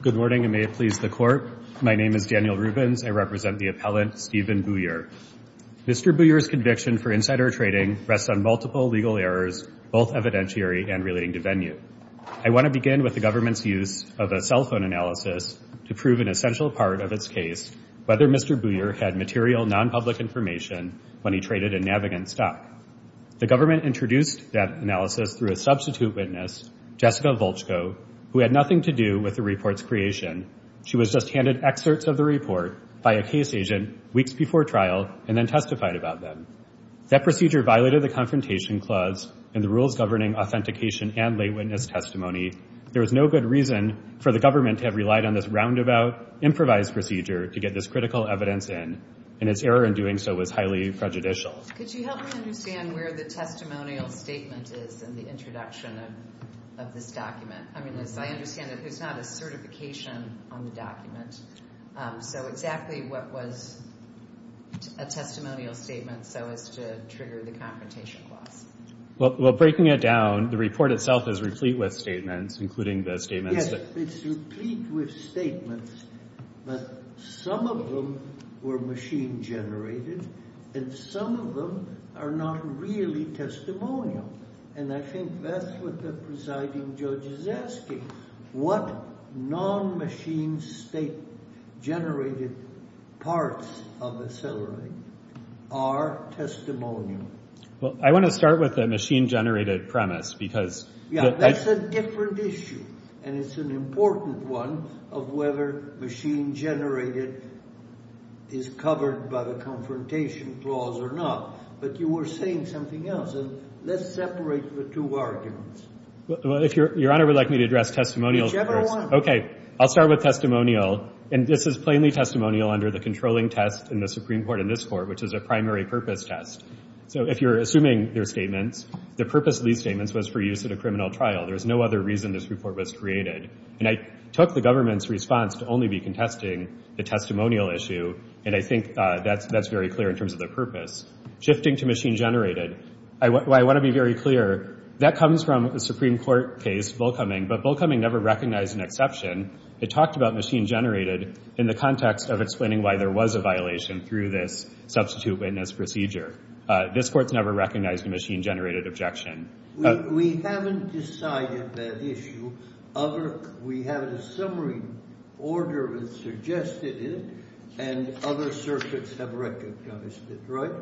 Good morning and may it please the court. My name is Daniel Rubens. I represent the Buyer. Mr. Buyer's conviction for insider trading rests on multiple legal errors, both evidentiary and relating to venue. I want to begin with the government's use of a cell phone analysis to prove an essential part of its case, whether Mr. Buyer had material non-public information when he traded a Navigant stock. The government introduced that analysis through a substitute witness, Jessica Volchko, who had nothing to do with the report's creation. She was just handed excerpts of the trial and then testified about them. That procedure violated the confrontation clause and the rules governing authentication and lay witness testimony. There was no good reason for the government to have relied on this roundabout, improvised procedure to get this critical evidence in, and its error in doing so was highly prejudicial. Could you help me understand where the testimonial statement is in the introduction of this document? I mean, as I understand it, there's not a testimonial statement so as to trigger the confrontation clause. Well, breaking it down, the report itself is replete with statements, including the statements that... Yes, it's replete with statements, but some of them were machine-generated and some of them are not really testimonial, and I think that's what the presiding judge is asking. What non-machine state-generated parts of Accelerate are testimonial? Well, I want to start with the machine-generated premise, because... Yeah, that's a different issue, and it's an important one of whether machine-generated is covered by the confrontation clause or not, but you were saying something else, and let's separate the two arguments. Well, if Your Honor would like me to address testimonials first. Okay, I'll start with testimonial, and this is plainly testimonial under the controlling test in the Supreme Court in this Court, which is a primary purpose test. So if you're assuming their statements, the purpose of these statements was for use at a criminal trial. There's no other reason this report was created, and I took the government's response to only be contesting the testimonial issue, and I think that's very clear in terms of the purpose. Shifting to machine-generated, I want to be very clear, that comes from a Supreme Court case, Volkoming, but Volkoming never recognized an exception. It talked about machine-generated in the context of explaining why there was a violation through this substitute witness procedure. This Court's never recognized a machine-generated objection. We haven't decided that issue. We have a summary order that suggested it, and other circuits have recognized it, right?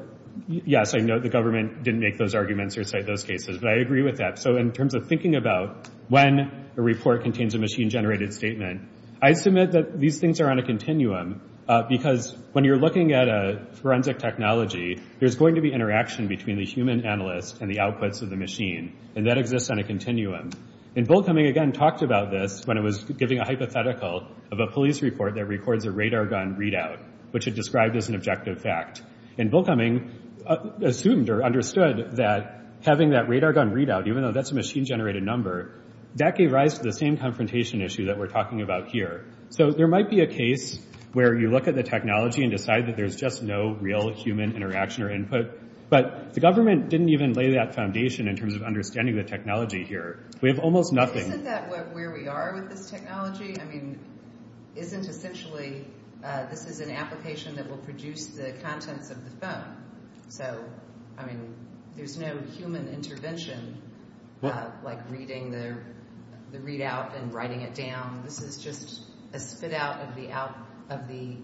Yes, I know the government didn't make those arguments or cite those cases, but I agree with that. So in terms of thinking about when a report contains a machine-generated statement, I submit that these things are on a continuum, because when you're looking at a forensic technology, there's going to be interaction between the human analyst and the outputs of the machine, and that exists on a continuum. And Volkoming, again, talked about this when it was giving a hypothetical of a police report that records a radar gun readout, which it described as an objective fact. And Volkoming assumed or understood that having that radar gun readout, even though that's a machine-generated number, that gave rise to the same confrontation issue that we're talking about here. So there might be a case where you look at the technology and decide that there's just no real human interaction or input, but the government didn't even lay that foundation in terms of understanding the technology here. We have almost nothing. Isn't that where we are with this technology? I mean, isn't essentially this is an application that will produce the contents of the phone. So, I mean, there's no human intervention, like reading the readout and writing it down. This is just a spit-out of the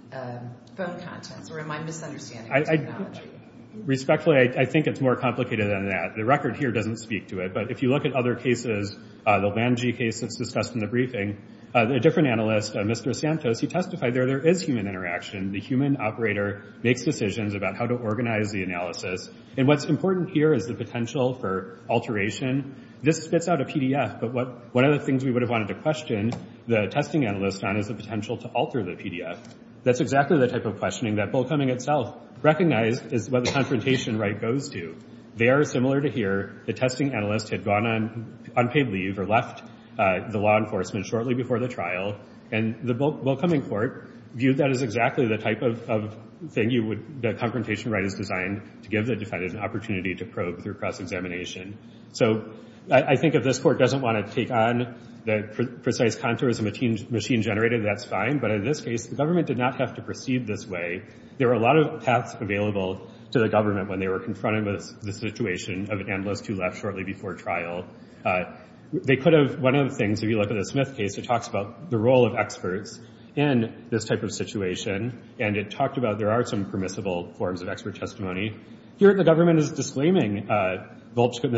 phone contents, or am I misunderstanding the technology? Respectfully, I think it's more complicated than that. The record here doesn't speak to it, but if you look at other cases, the Lungi case that's discussed in the briefing, a different analyst, Mr. Santos, he testified that there is human interaction. The human operator makes decisions about how to organize the analysis. And what's important here is the potential for alteration. This spits out a PDF, but one of the things we would have wanted to question the testing analyst on is the potential to alter the PDF. That's exactly the type of questioning that Volkoming itself recognized is what the confrontation right goes to. They are similar to here. The testing analyst had gone on unpaid leave or left the law enforcement shortly before the trial, and the Volkoming court viewed that as exactly the type of thing the confrontation right is designed to give the defendant an opportunity to probe through cross-examination. So I think if this court doesn't want to take on the precise contours of machine-generated, that's fine. But in this case, the government did not have to proceed this way. There were a lot of paths available to the government when they were confronted with the situation of an analyst who left shortly before trial. One of the things, if you look at the Smith case, it talks about the role of experts in this type of situation, and it talked about there are some permissible forms of expert testimony. Here, the government is disclaiming Ms.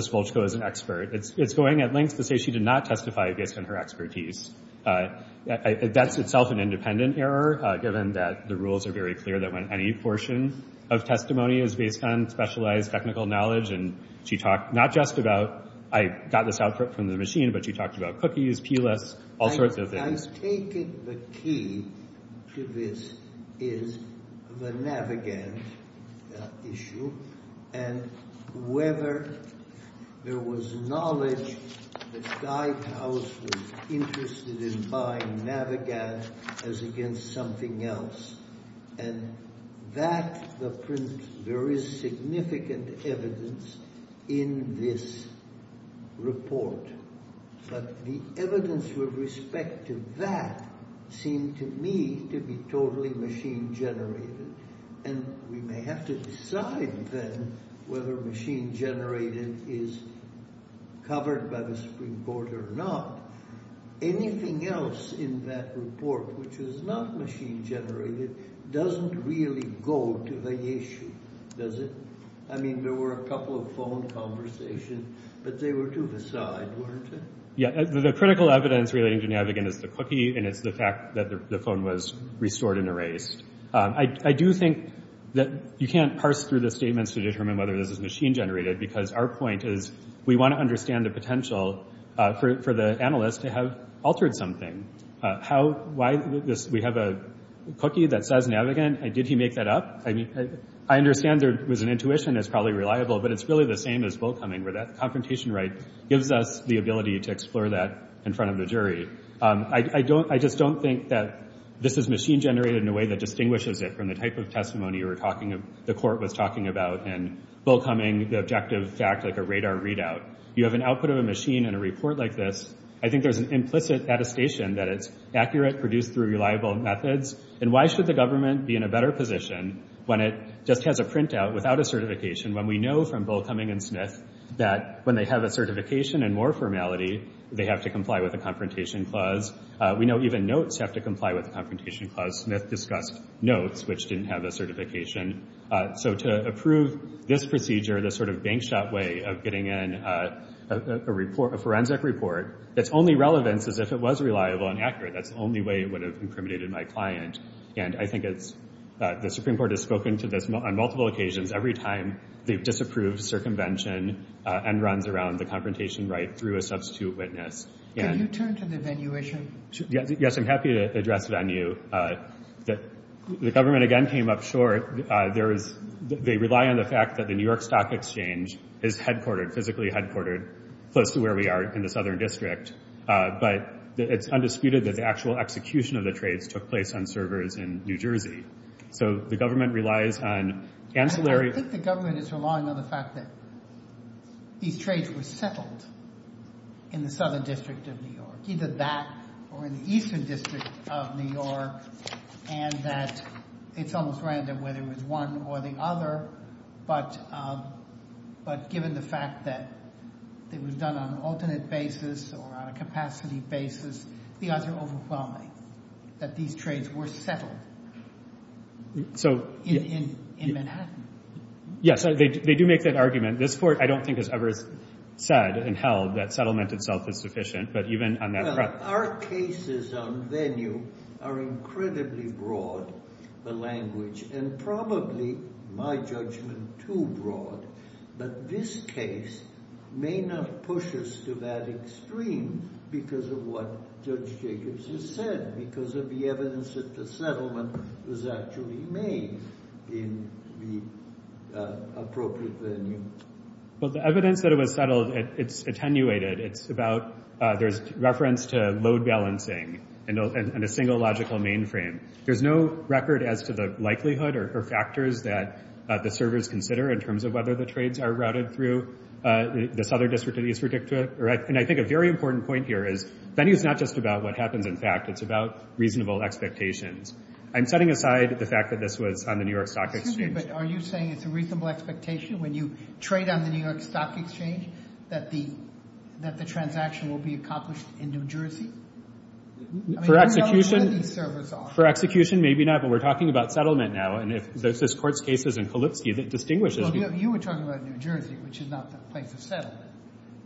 Volchko as an expert. It's going at lengths to say she did not testify based on her expertise. That's itself an independent error, given that the rules are very clear that when any portion of testimony is based on specialized technical knowledge, and she talked not just about, I got this output from the machine, but she talked about cookies, P-lists, all sorts of things. I take it the key to this is the Navigant issue, and whether there was knowledge that Stuyvehouse was interested in buying Navigant as against something else. And that, the print, there is significant evidence in this report. But the evidence with respect to that seemed to me to be totally machine-generated. And we may have to decide then whether machine-generated is covered by the Supreme Court or not. Anything else in that report which is not machine-generated doesn't really go to the issue, does it? I mean, there were a couple of phone conversations, but they were to the side, weren't they? Yeah, the critical evidence relating to Navigant is the cookie, and it's the fact that the phone was restored and erased. I do think that you can't parse through the statements to determine whether this is machine-generated, because our point is we want to understand the potential for the analyst to have altered something. We have a cookie that says Navigant, did he make that up? I understand there was an intuition that's probably reliable, but it's really the same as Will Cumming, where that confrontation right gives us the ability to explore that in front of the jury. I just don't think that this is machine-generated in a way that distinguishes it from the type of testimony the court was talking about and Will Cumming, the objective fact, like a radar readout. You have an output of a machine and a report like this, I think there's an implicit attestation that it's accurate, produced through reliable methods. And why should the government be in a better position when it just has a printout without a certification, when we know from Bull, Cumming, and Smith that when they have a certification and more formality, they have to comply with a confrontation clause. We know even notes have to comply with the confrontation clause. Smith discussed notes, which didn't have a certification. So to approve this procedure, this sort of bank shot way of getting in a forensic report, its only relevance is if it was reliable and accurate. That's the only way it would have incriminated my client. And I think the Supreme Court has spoken to this on multiple occasions, every time they've disapproved circumvention and runs around the confrontation right through a substitute witness. Can you turn to the venue issue? Yes, I'm happy to address venue. The government again came up short. They rely on the fact that the New York Stock Exchange is headquartered, physically headquartered, close to where we are in the Southern District. But it's undisputed that the actual execution of the trades took place on servers in New Jersey. So the government relies on ancillary... I think the government is relying on the fact that these trades were settled in the Southern District of New York, either that or in the Eastern District of New York, and that it's almost random whether it was one or the other. But given the fact that it was done on an alternate basis or on a capacity basis, the odds are overwhelming that these trades were settled in Manhattan. Yes, they do make that argument. This Court, I don't think, has ever said and held that it's sufficient, but even on that front... Our cases on venue are incredibly broad, the language, and probably, my judgment, too broad. But this case may not push us to that extreme because of what Judge Jacobs has said, because of the evidence that the settlement was actually made in the appropriate venue. Well, the evidence that it was settled, it's attenuated. It's about... There's reference to load balancing and a single logical mainframe. There's no record as to the likelihood or factors that the servers consider in terms of whether the trades are routed through the Southern District and Eastern District. And I think a very important point here is venue is not just about what happens in fact. It's about reasonable expectations. I'm setting aside the fact that this was on the New York Stock Exchange. But are you saying it's a reasonable expectation when you trade on the New York Stock Exchange that the transaction will be accomplished in New Jersey? For execution, maybe not, but we're talking about settlement now. And if this Court's case is in Kalinsky, that distinguishes... You were talking about New Jersey, which is not the place of settlement.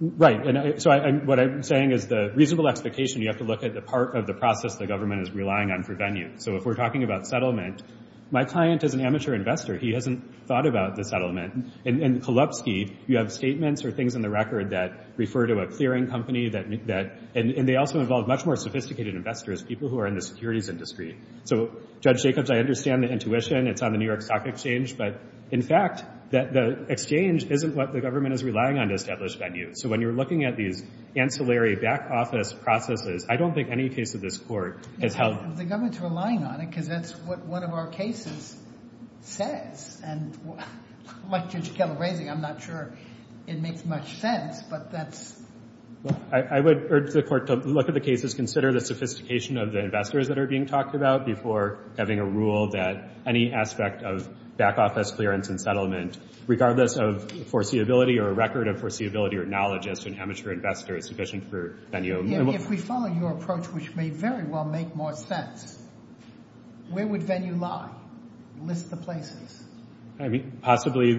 Right. And so what I'm saying is the reasonable expectation, you have to look at the part of the process the government is relying on for venue. So if we're talking about settlement, my client is an amateur investor. He hasn't thought about the settlement. In Kalinsky, you have statements or things in the record that refer to a clearing company that... And they also involve much more sophisticated investors, people who are in the securities industry. So, Judge Jacobs, I understand the intuition. It's on the New York Stock Exchange. But in fact, the exchange isn't what the government is relying on to establish venue. So when you're looking at these ancillary back office processes, I don't think any case of this Court has held... The government's relying on it because that's what one of our cases says. And like Judge Keller raising, I'm not sure it makes much sense, but that's... I would urge the Court to look at the cases, consider the sophistication of the investors that are being talked about before having a rule that any aspect of back office clearance and settlement, regardless of foreseeability or a record of foreseeability or knowledge as to an amateur investor, is sufficient for If we follow your approach, which may very well make more sense, where would venue lie? List the places. Possibly...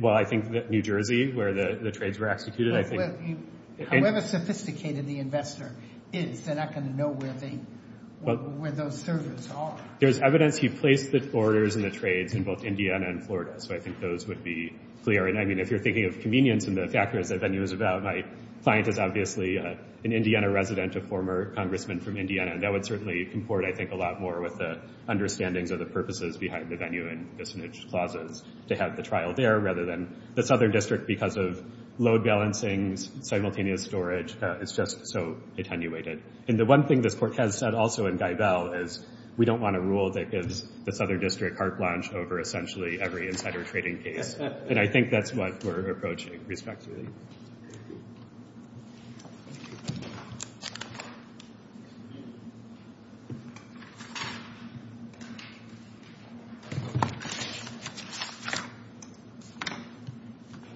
Well, I think that New Jersey, where the trades were executed, I think... However sophisticated the investor is, they're not going to know where those servers are. There's evidence he placed the orders and the trades in both Indiana and Florida, so I think those would be clear. And I mean, if you're thinking of convenience and the factors that venue is about, my client is obviously an Indiana resident, a former congressman from Indiana, and that would certainly comport, I think, a lot more with the understandings of the purposes behind the venue and dissonance clauses. To have the trial there rather than the Southern District because of load balancings, simultaneous storage, it's just so attenuated. And the one thing this Court has said also in Geibel is we don't want a rule that gives the Southern District carte blanche over essentially every insider trading case. And I think that's what we're approaching respectively.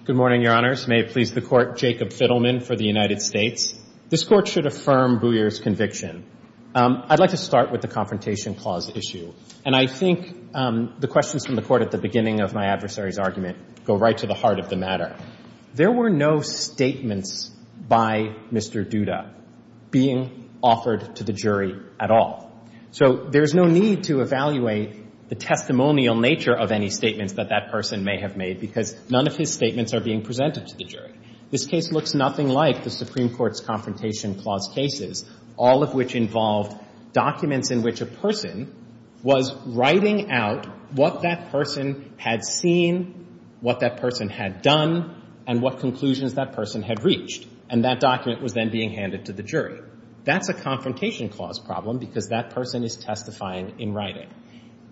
Good morning, Your Honors. May it please the Court Jacob Fiddleman for the United States. This Court should affirm Booyer's conviction. I'd like to start with the confrontation clause issue. And I think the questions from the Court at the beginning of my adversary's argument go right to the heart of the matter. There were no statements by Mr. Duda being offered to the jury at all. So there's no need to evaluate the testimonial nature of any statements that that person may have made because none of his statements are being presented to the jury. This case looks nothing like the Supreme Court's confrontation clause cases, all of which involved documents in which a person was writing out what that person had seen, what that person had done, and what conclusions that person had reached. And that document was then being handed to the jury. That's a confrontation clause problem because that person is testifying in writing.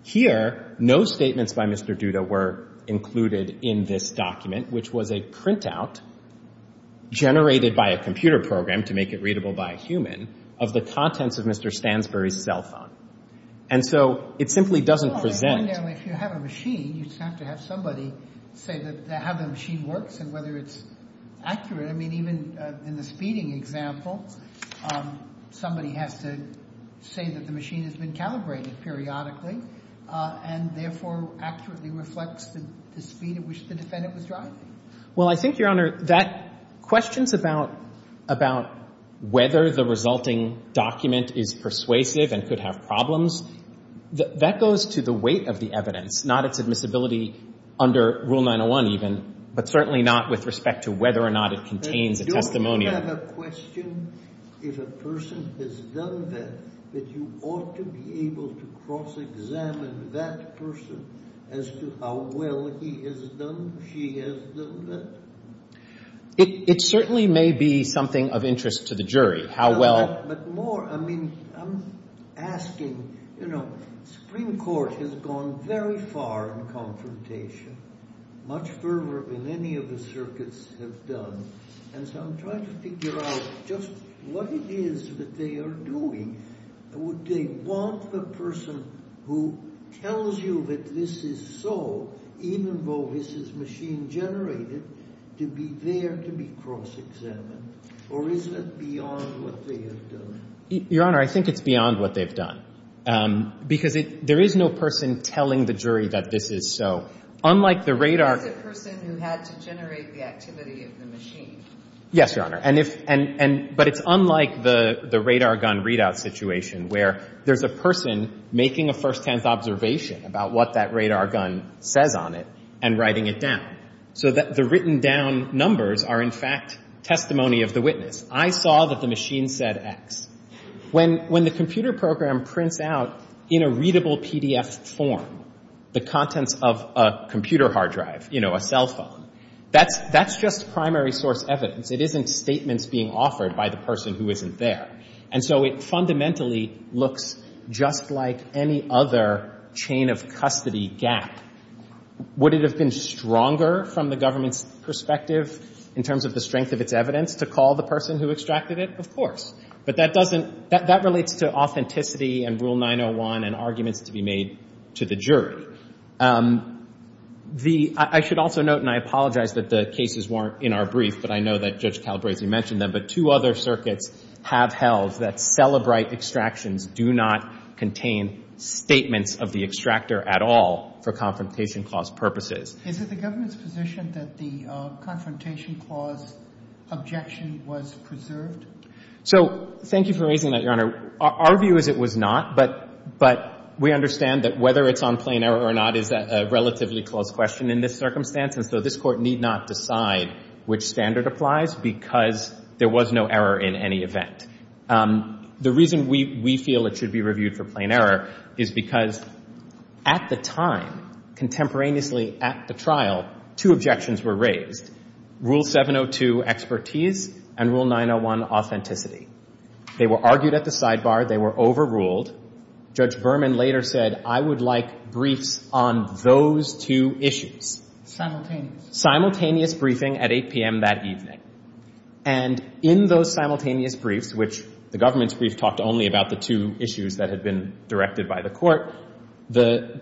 Here, no statements by Mr. Duda were included in this document, which was a printout generated by a computer program to make it readable by a human of the contents of Mr. Stansbury's cell phone. And so it simply doesn't represent. Well, fundamentally, if you have a machine, you just have to have somebody say how the machine works and whether it's accurate. I mean, even in the speeding example, somebody has to say that the machine has been calibrated periodically and therefore accurately reflects the speed at which the defendant was driving. Well, I think, Your Honor, that questions about whether the resulting document is persuasive and could have problems, that goes to the weight of the evidence, not its admissibility under Rule 901 even, but certainly not with respect to whether or not it contains a testimony. But don't you have a question, if a person has done that, that you ought to be able to cross-examine that person as to how well he has done, she has done that? It certainly may be something of interest to the jury, how well... But more, I mean, I'm asking, you know, Supreme Court has gone very far in confrontation, much further than any of the circuits have done. And so I'm trying to figure out just what it is that they are doing. Would they want the person who tells you that this is so, even though this is machine-generated, to be there to be cross-examined? Or is it beyond what the jury has done? Your Honor, I think it's beyond what they've done. Because there is no person telling the jury that this is so. Unlike the radar... It is a person who had to generate the activity of the machine. Yes, Your Honor. But it's unlike the radar gun readout situation, where there's a person making a firsthand observation about what that radar gun says on it and writing it down. So the written-down numbers are, in fact, testimony of the machine said X. When the computer program prints out in a readable PDF form the contents of a computer hard drive, you know, a cell phone, that's just primary source evidence. It isn't statements being offered by the person who isn't there. And so it fundamentally looks just like any other chain of custody gap. Would it have been stronger, from the government's perspective, in terms of the strength of its evidence, to call the person who extracted it? Of course. But that doesn't... That relates to authenticity and Rule 901 and arguments to be made to the jury. I should also note, and I apologize that the cases weren't in our brief, but I know that Judge Calabresi mentioned them, but two other circuits have held that Cellebrite extractions do not contain statements of the extractor at all for Confrontation Clause purposes. Is it the government's position that the Confrontation Clause objection was preserved? So, thank you for raising that, Your Honor. Our view is it was not, but we understand that whether it's on plain error or not is a relatively close question in this circumstance, and so this Court need not decide which standard applies because there was no error in any event. The reason we feel it should be reviewed for plain error is because at the time, contemporaneously at the trial, two objections were raised. Rule 702, expertise, and Rule 901, authenticity. They were argued at the sidebar. They were overruled. Judge Berman later said, I would like briefs on those two issues. Simultaneous. Simultaneous briefing at 8 p.m. that evening. And in those simultaneous briefs, which the government's brief talked only about the two issues that had been directed by the Court, the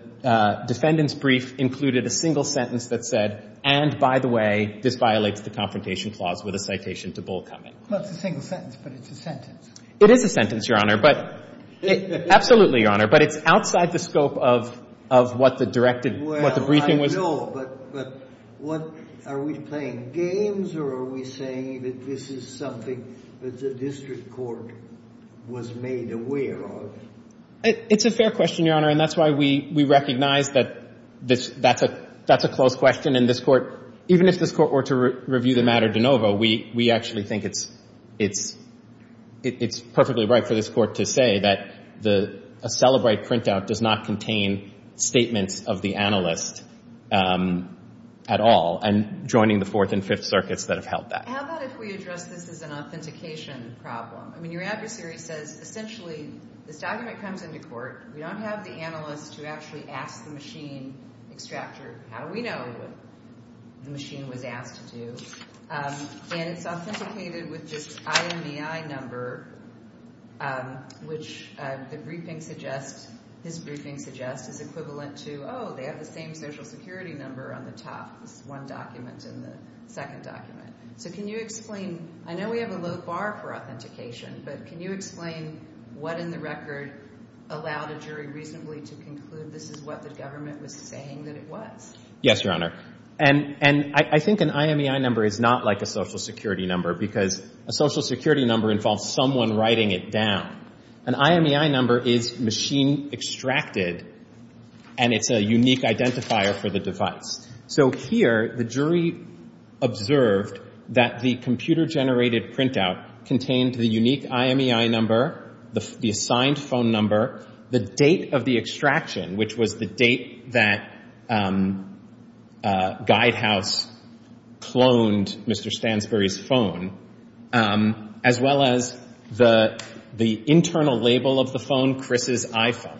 defendant's brief included a single sentence that said, and, by the way, this violates the Confrontation Clause, with a citation to Bull coming. Well, it's a single sentence, but it's a sentence. It is a sentence, Your Honor, but absolutely, Your Honor. But it's outside the scope of what the directed, what the briefing was. Well, I know, but what, are we playing games or are we saying that this is something that the district court was made aware of? It's a fair question, Your Honor, and that's why we recognize that this, that's a, that's a close question, and this Court, even if this Court were to review the matter de novo, we, we actually think it's, it's, it's perfectly right for this Court to say that the, a Cellebrite printout does not contain statements of the analyst at all, and joining the Fourth and Fifth Circuits that have held that. How about if we address this as an authentication problem? I mean, your adversary says, essentially, this document comes into court. We don't have the analyst to actually ask the machine extractor, how do we know what the machine was asked to do? And it's authenticated with just IMEI number, which the briefing suggests, his briefing suggests, is equivalent to, oh, they have the same Social Security number on the top, this one document and the second document. So can you explain, I know we have a low bar for authentication, but can you explain what in the record allowed a jury reasonably to conclude this is what the government was saying that it was? Yes, Your Honor. And, and I, I think an IMEI number is not like a Social Security number because a Social Security number involves someone writing it down. An IMEI number is machine extracted and it's a unique identifier for the device. So here, the jury observed that the computer-generated printout contained the unique IMEI number, the assigned phone number, the date of the extraction, which was the date that GuideHouse cloned Mr. Stansbury's phone, as well as the, the internal label of the phone, Chris's iPhone.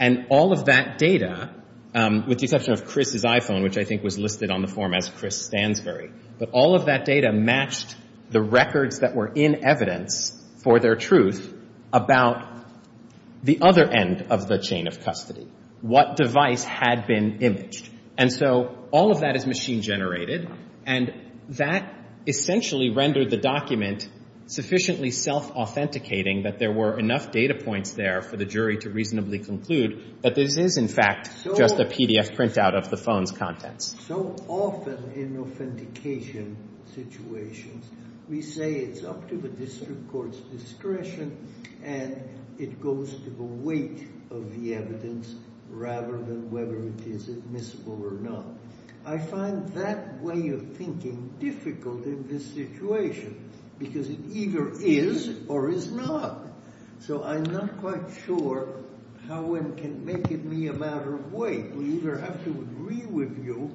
And all of that data, with the exception of Chris's iPhone, which I think was listed on the form as Chris Stansbury, but all of that data matched the records that were in evidence for their truth about the other end of the chain of custody, what device had been imaged. And so all of that is machine-generated and that essentially rendered the document sufficiently self-authenticating that there were enough data points there for the jury to possibly conclude that this is, in fact, just a PDF printout of the phone's contents. So often in authentication situations, we say it's up to the district court's discretion and it goes to the weight of the evidence rather than whether it is admissible or not. I find that way of thinking difficult in this situation because it either is or is not. So I'm not quite sure how one can make it be a matter of weight. We either have to agree with you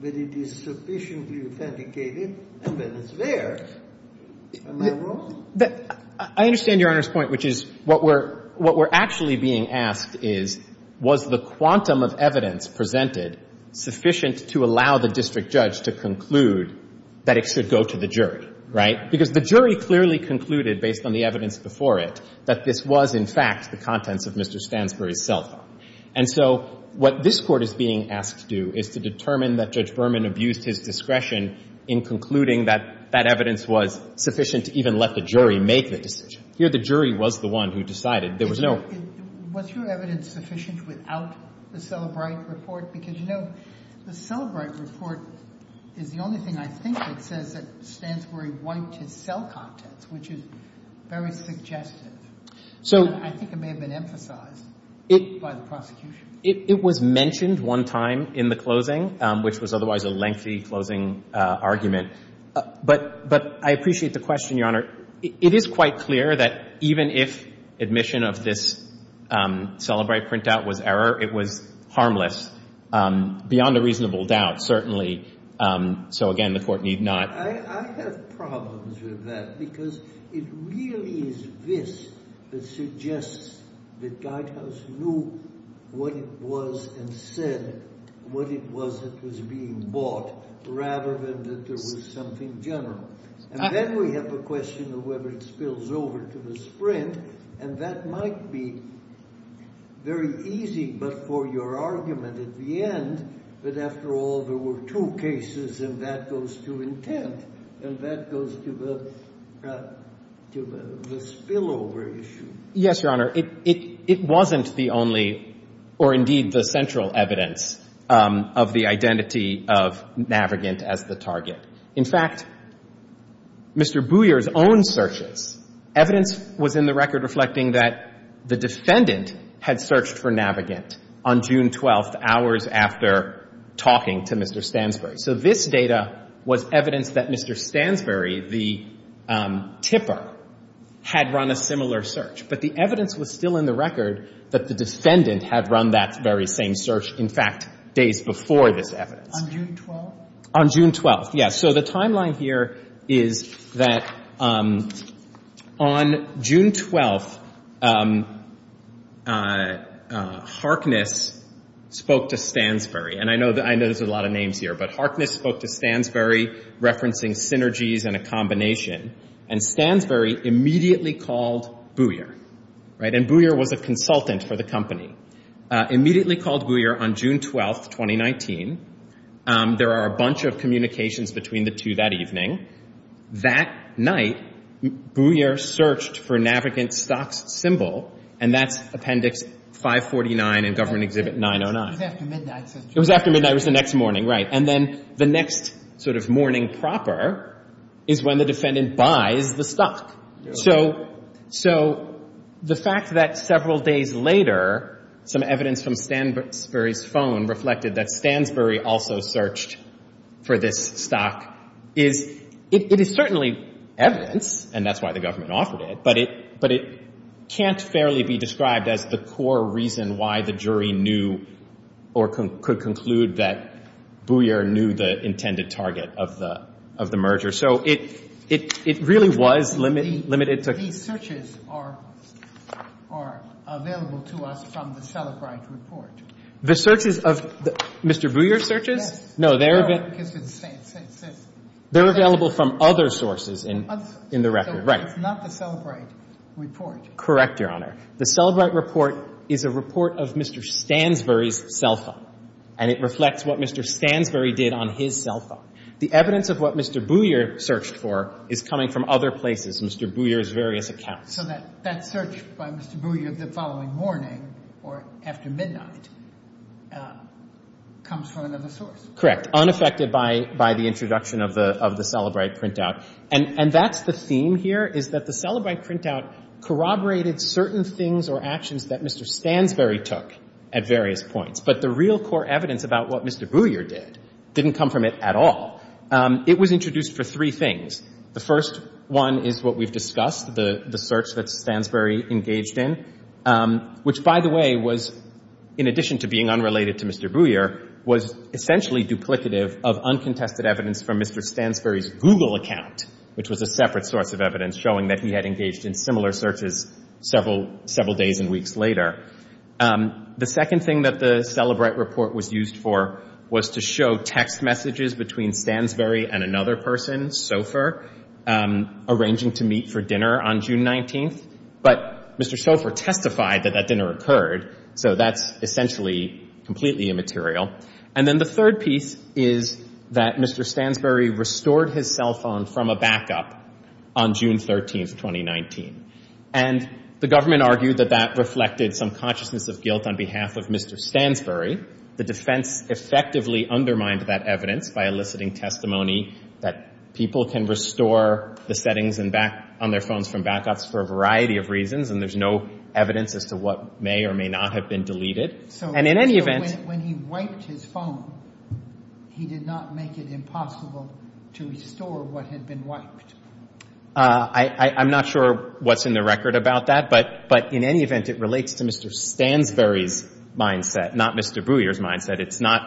that it is sufficiently authenticated and that it's there. Am I wrong? I understand Your Honor's point, which is what we're, what we're actually being asked is, was the quantum of evidence presented sufficient to allow the district judge to conclude that it should go to the jury, right? Because the jury clearly concluded, based on the evidence before it, that this was, in fact, the contents of Mr. Stansbury's cell phone. And so what this Court is being asked to do is to determine that Judge Berman abused his discretion in concluding that that evidence was sufficient to even let the jury make the decision. Here the jury was the one who decided. There was no — Was your evidence sufficient without the Cellebrite report? Because, you know, the Cellebrite report is the only thing I think that says that Mr. Stansbury wiped his cell contents, which is very suggestive. So — I think it may have been emphasized by the prosecution. It was mentioned one time in the closing, which was otherwise a lengthy closing argument. But I appreciate the question, Your Honor. It is quite clear that even if admission of this Cellebrite printout was error, it was harmless, beyond a reasonable doubt, certainly. So, again, the Court need not — I have problems with that because it really is this that suggests that Guidehouse knew what it was and said what it was that was being bought, rather than that there was something general. And then we have the question of whether it spills over to the Sprint, and that might be very easy, but for your argument at the end that, after all, there were two cases, and that goes to intent, and that goes to the — to the spillover issue. Yes, Your Honor. It wasn't the only, or indeed the central, evidence of the identity of Navigant as the target. In fact, Mr. Booyer's own searches, evidence was in the record reflecting that the defendant had searched for Navigant on June 12th, hours after talking to Mr. Stansbury. So this data was evidence that Mr. Stansbury, the tipper, had run a similar search. But the evidence was still in the record that the defendant had run that very same search, in fact, days before this evidence. On June 12th? On June 12th, yes. So the timeline here is that on June 12th, Harkness spoke to Stansbury, and I know there's a lot of names here, but Harkness spoke to Stansbury, referencing synergies and a combination, and Stansbury immediately called Booyer, right? And Booyer was a consultant for the company. Immediately called Booyer on June 12th, 2019. There are a bunch of communications between the two that evening. That night, Booyer searched for Navigant's stock symbol, and that's Appendix 549 in Government Exhibit 909. It was after midnight. It was after midnight. It was the next morning, right. And then the next sort of morning proper is when the defendant buys the stock. So the fact that several days later, some evidence from Stansbury's phone reflected that Stansbury also searched for this stock is, it is certainly evidence, and that's why the government offered it, but it can't fairly be described as the core reason why the jury knew or could conclude that Booyer knew the intended target of the merger. So it really was limited to… These searches are available to us from the Sellebright report. The searches of Mr. Booyer's searches? Yes. No, they're… No, because it's… They're available from other sources in the record. Right. So it's not the Sellebright report. Correct, Your Honor. The Sellebright report is a report of Mr. Stansbury's cell phone, and it reflects what Mr. Stansbury did on his cell phone. The evidence of what Mr. Booyer searched for is coming from other places, Mr. Booyer's various accounts. So that search by Mr. Booyer the following morning or after midnight comes from another source. Unaffected by the introduction of the Sellebright printout. And that's the theme here, is that the Sellebright printout corroborated certain things or actions that Mr. Stansbury took at various points, but the real core evidence about what Mr. Booyer did didn't come from it at all. It was introduced for three things. The first one is what we've discussed, the search that Stansbury engaged in, which, by the way, was, in addition to being unrelated to Mr. Booyer, was essentially duplicative of uncontested evidence from Mr. Stansbury's Google account, which was a separate source of evidence showing that he had engaged in similar searches several days and weeks later. The second thing that the Sellebright report was used for was to show text messages between Stansbury and another person, Sofer, arranging to meet for dinner on June 19th. But Mr. Sofer testified that that dinner occurred. So that's essentially completely immaterial. And then the third piece is that Mr. Stansbury restored his cell phone from a backup on June 13th, 2019. And the government argued that that reflected some consciousness of guilt on behalf of Mr. Stansbury. The defense effectively undermined that evidence by eliciting testimony that people can restore the settings on their phones from backups for a variety of reasons, and there's no evidence as to what may or may not have been deleted. And in any event — So when he wiped his phone, he did not make it impossible to restore what had been I'm not sure what's in the record about that, but in any event, it relates to Mr. Booyer's mindset. It's not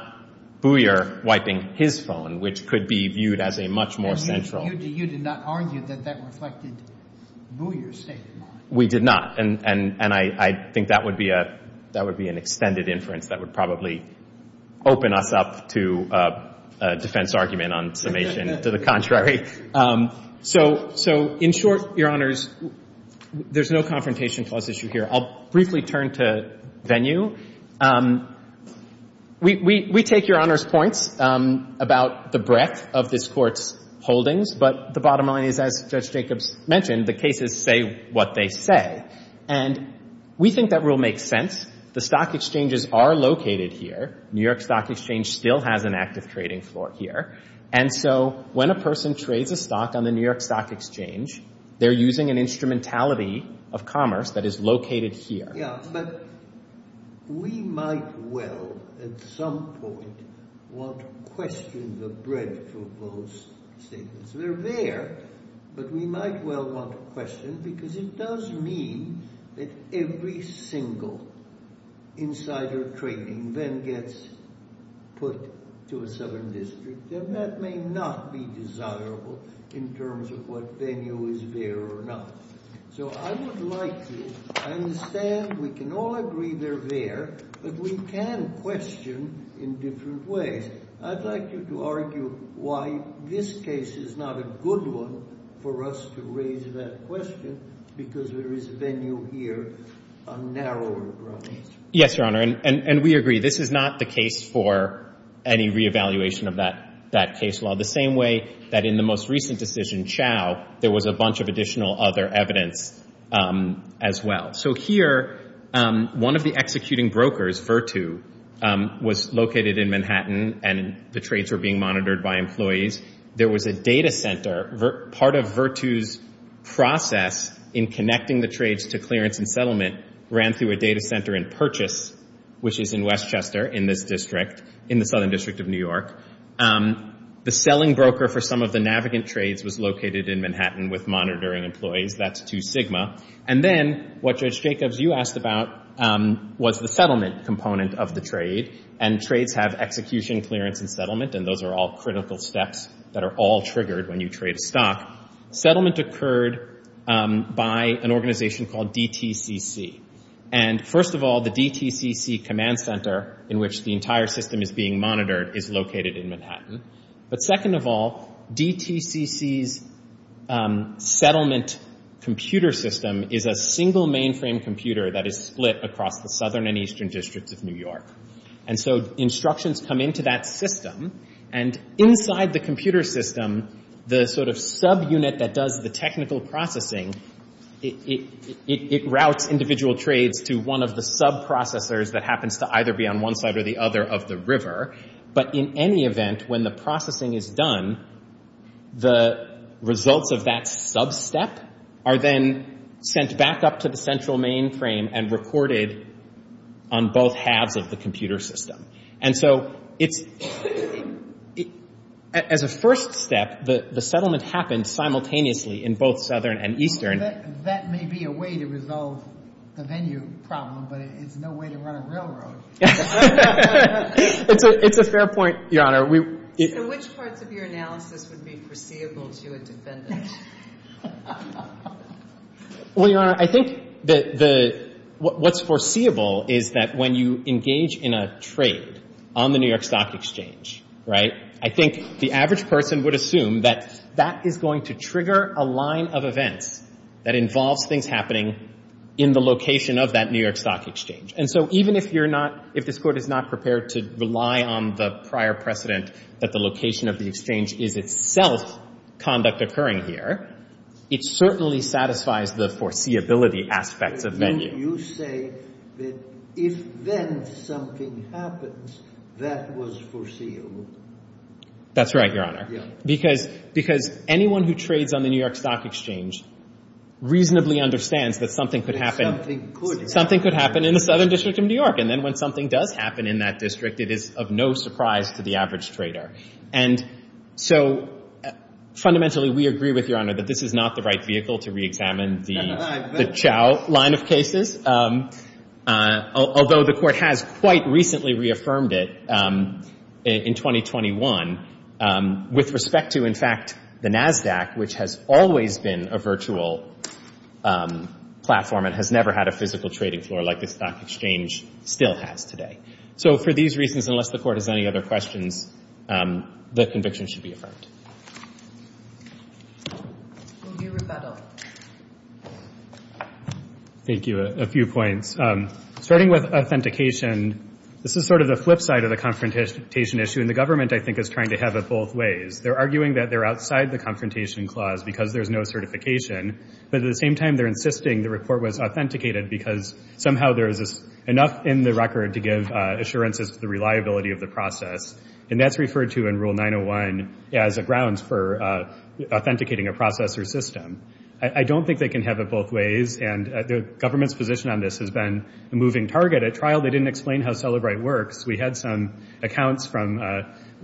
Booyer wiping his phone, which could be viewed as a much more central — You did not argue that that reflected Booyer's state of mind. We did not. And I think that would be an extended inference that would probably open us up to a defense argument on summation to the contrary. So in short, Your Honors, there's no confrontation clause issue here. I'll briefly turn to venue. We take Your Honors' points about the breadth of this Court's holdings, but the bottom line is, as Judge Jacobs mentioned, the cases say what they say. And we think that rule makes sense. The stock exchanges are located here. New York Stock Exchange still has an active trading floor here. And so when a person trades a stock on the New York Stock Exchange, they're using an instrumentality of commerce that is located here. Yeah, but we might well, at some point, want to question the breadth of those statements. They're there, but we might well want to question, because it does mean that every single insider trading then gets put to a southern district, and that may not be desirable in terms of what venue is there or not. So I would like to understand. We can all agree they're there, but we can question in different ways. I'd like you to argue why this case is not a good one for us to raise that question, because there is venue here on narrower grounds. Yes, Your Honor, and we agree. This is not the case for any reevaluation of that case law, the same way that in the most recent decision, Chao, there was a bunch of additional other evidence as well. So here, one of the executing brokers, Virtu, was located in Manhattan, and the trades were being monitored by employees. There was a data center. Part of Virtu's process in connecting the trades to clearance and settlement ran through a data center in Purchase, which is in Westchester in this district, in the southern district of New York. The selling broker for some of the Navigant trades was located in Manhattan with monitoring employees. That's Two Sigma. And then what, Judge Jacobs, you asked about was the settlement component of the trade, and trades have execution, clearance, and settlement, and those are all critical steps that are all triggered when you trade a stock. Settlement occurred by an organization called DTCC. And first of all, the DTCC command center, in which the entire system is being monitored, is located in Manhattan. But second of all, DTCC's settlement computer system is a single mainframe computer that is split across the southern and eastern districts of New York. And so instructions come into that system, and inside the computer system, the sort of subunit that does the technical processing, it routes individual trades to one of the subprocessors that happens to either be on one side or the other of the river, but in any event, when the processing is done, the results of that sub-step are then sent back up to the central mainframe and recorded on both halves of the computer system. And so as a first step, the settlement happened simultaneously in both southern and eastern. That may be a way to resolve the venue problem, but it's no way to run a railroad. It's a fair point, Your Honor. So which parts of your analysis would be foreseeable to a defendant? Well, Your Honor, I think what's foreseeable is that when you engage in a trade on the New York Stock Exchange, right, I think the average person would assume that that is going to trigger a line of events that involves things happening in the location of that New York Stock Exchange. And so even if you're not — if this Court is not prepared to rely on the prior precedent that the location of the exchange is itself conduct occurring here, it certainly satisfies the foreseeability aspects of venue. You say that if then something happens, that was foreseeable. That's right, Your Honor, because anyone who trades on the New York Stock Exchange reasonably understands that something could happen in the southern district of New York. And then when something does happen in that district, it is of no surprise to the average trader. And so fundamentally we agree with Your Honor that this is not the right vehicle to reexamine the Chao line of cases, although the Court has quite recently reaffirmed it in 2021 with respect to, in fact, the NASDAQ, which has always been a virtual platform and has never had a physical trading floor like the Stock Exchange still has today. So for these reasons, unless the Court has any other questions, the conviction should be affirmed. Will you rebuttal? Thank you. A few points. Starting with authentication, this is sort of the flip side of the confrontation issue, and the government, I think, is trying to have it both ways. They're arguing that they're outside the confrontation clause because there's no certification, but at the same time they're insisting the report was authenticated because somehow there is enough in the record to give assurances to the reliability of the process. And that's referred to in Rule 901 as a grounds for authenticating a process or system. I don't think they can have it both ways, and the government's position on this has been a moving target. At trial they didn't explain how Celebrite works. We had some accounts from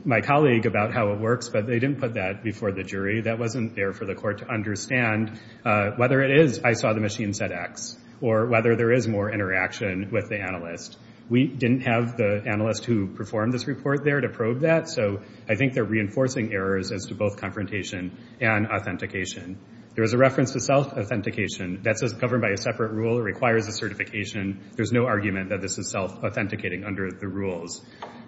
my colleague about how it works, but they didn't put that before the jury. That wasn't there for the Court to understand whether it is I saw the machine said X or whether there is more interaction with the analyst. We didn't have the analyst who performed this report there to probe that, so I think they're reinforcing errors as to both confrontation and authentication. There is a reference to self-authentication. That's governed by a separate rule. It requires a certification. There's no argument that this is self-authenticating under the rules.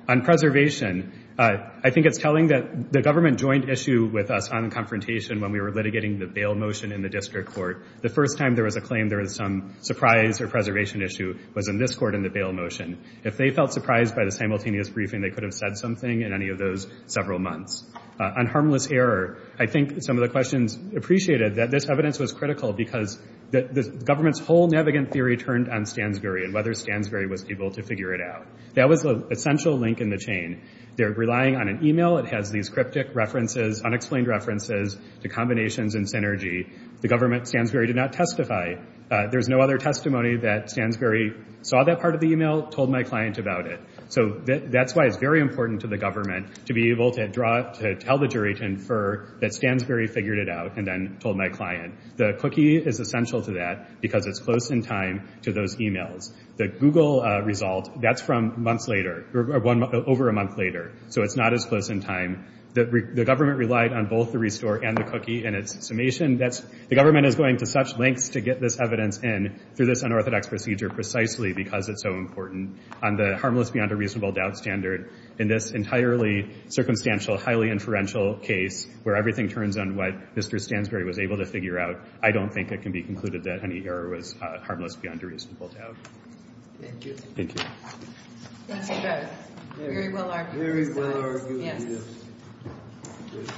On preservation, I think it's telling that the government joined issue with us on confrontation when we were litigating the bail motion in the District Court. The first time there was a claim there was some surprise or preservation issue was in this court in the bail motion. If they felt surprised by the simultaneous briefing, they could have said something in any of those several months. On harmless error, I think some of the questions appreciated that this evidence was critical because the government's whole Navigant theory turned on Stansbury and whether Stansbury was able to figure it out. That was the essential link in the chain. They're relying on an email. It has these cryptic references, unexplained references to combinations and synergy. The government, Stansbury, did not testify. There's no other testimony that Stansbury saw that part of the email, told my client about it. That's why it's very important to the government to be able to tell the jury to infer that Stansbury figured it out and then told my client. The cookie is essential to that because it's close in time to those emails. The Google result, that's from months later, over a month later, so it's not as close in time. The government relied on both the restore and the cookie in its summation. The government is going to such lengths to get this evidence in through this unorthodox procedure precisely because it's so important. On the harmless beyond a reasonable doubt standard, in this entirely circumstantial, highly inferential case where everything turns on what Mr. Stansbury was able to figure out, I don't think it can be concluded that any error was harmless beyond a reasonable doubt. Thank you. Thank you. Very well argued. Very well argued.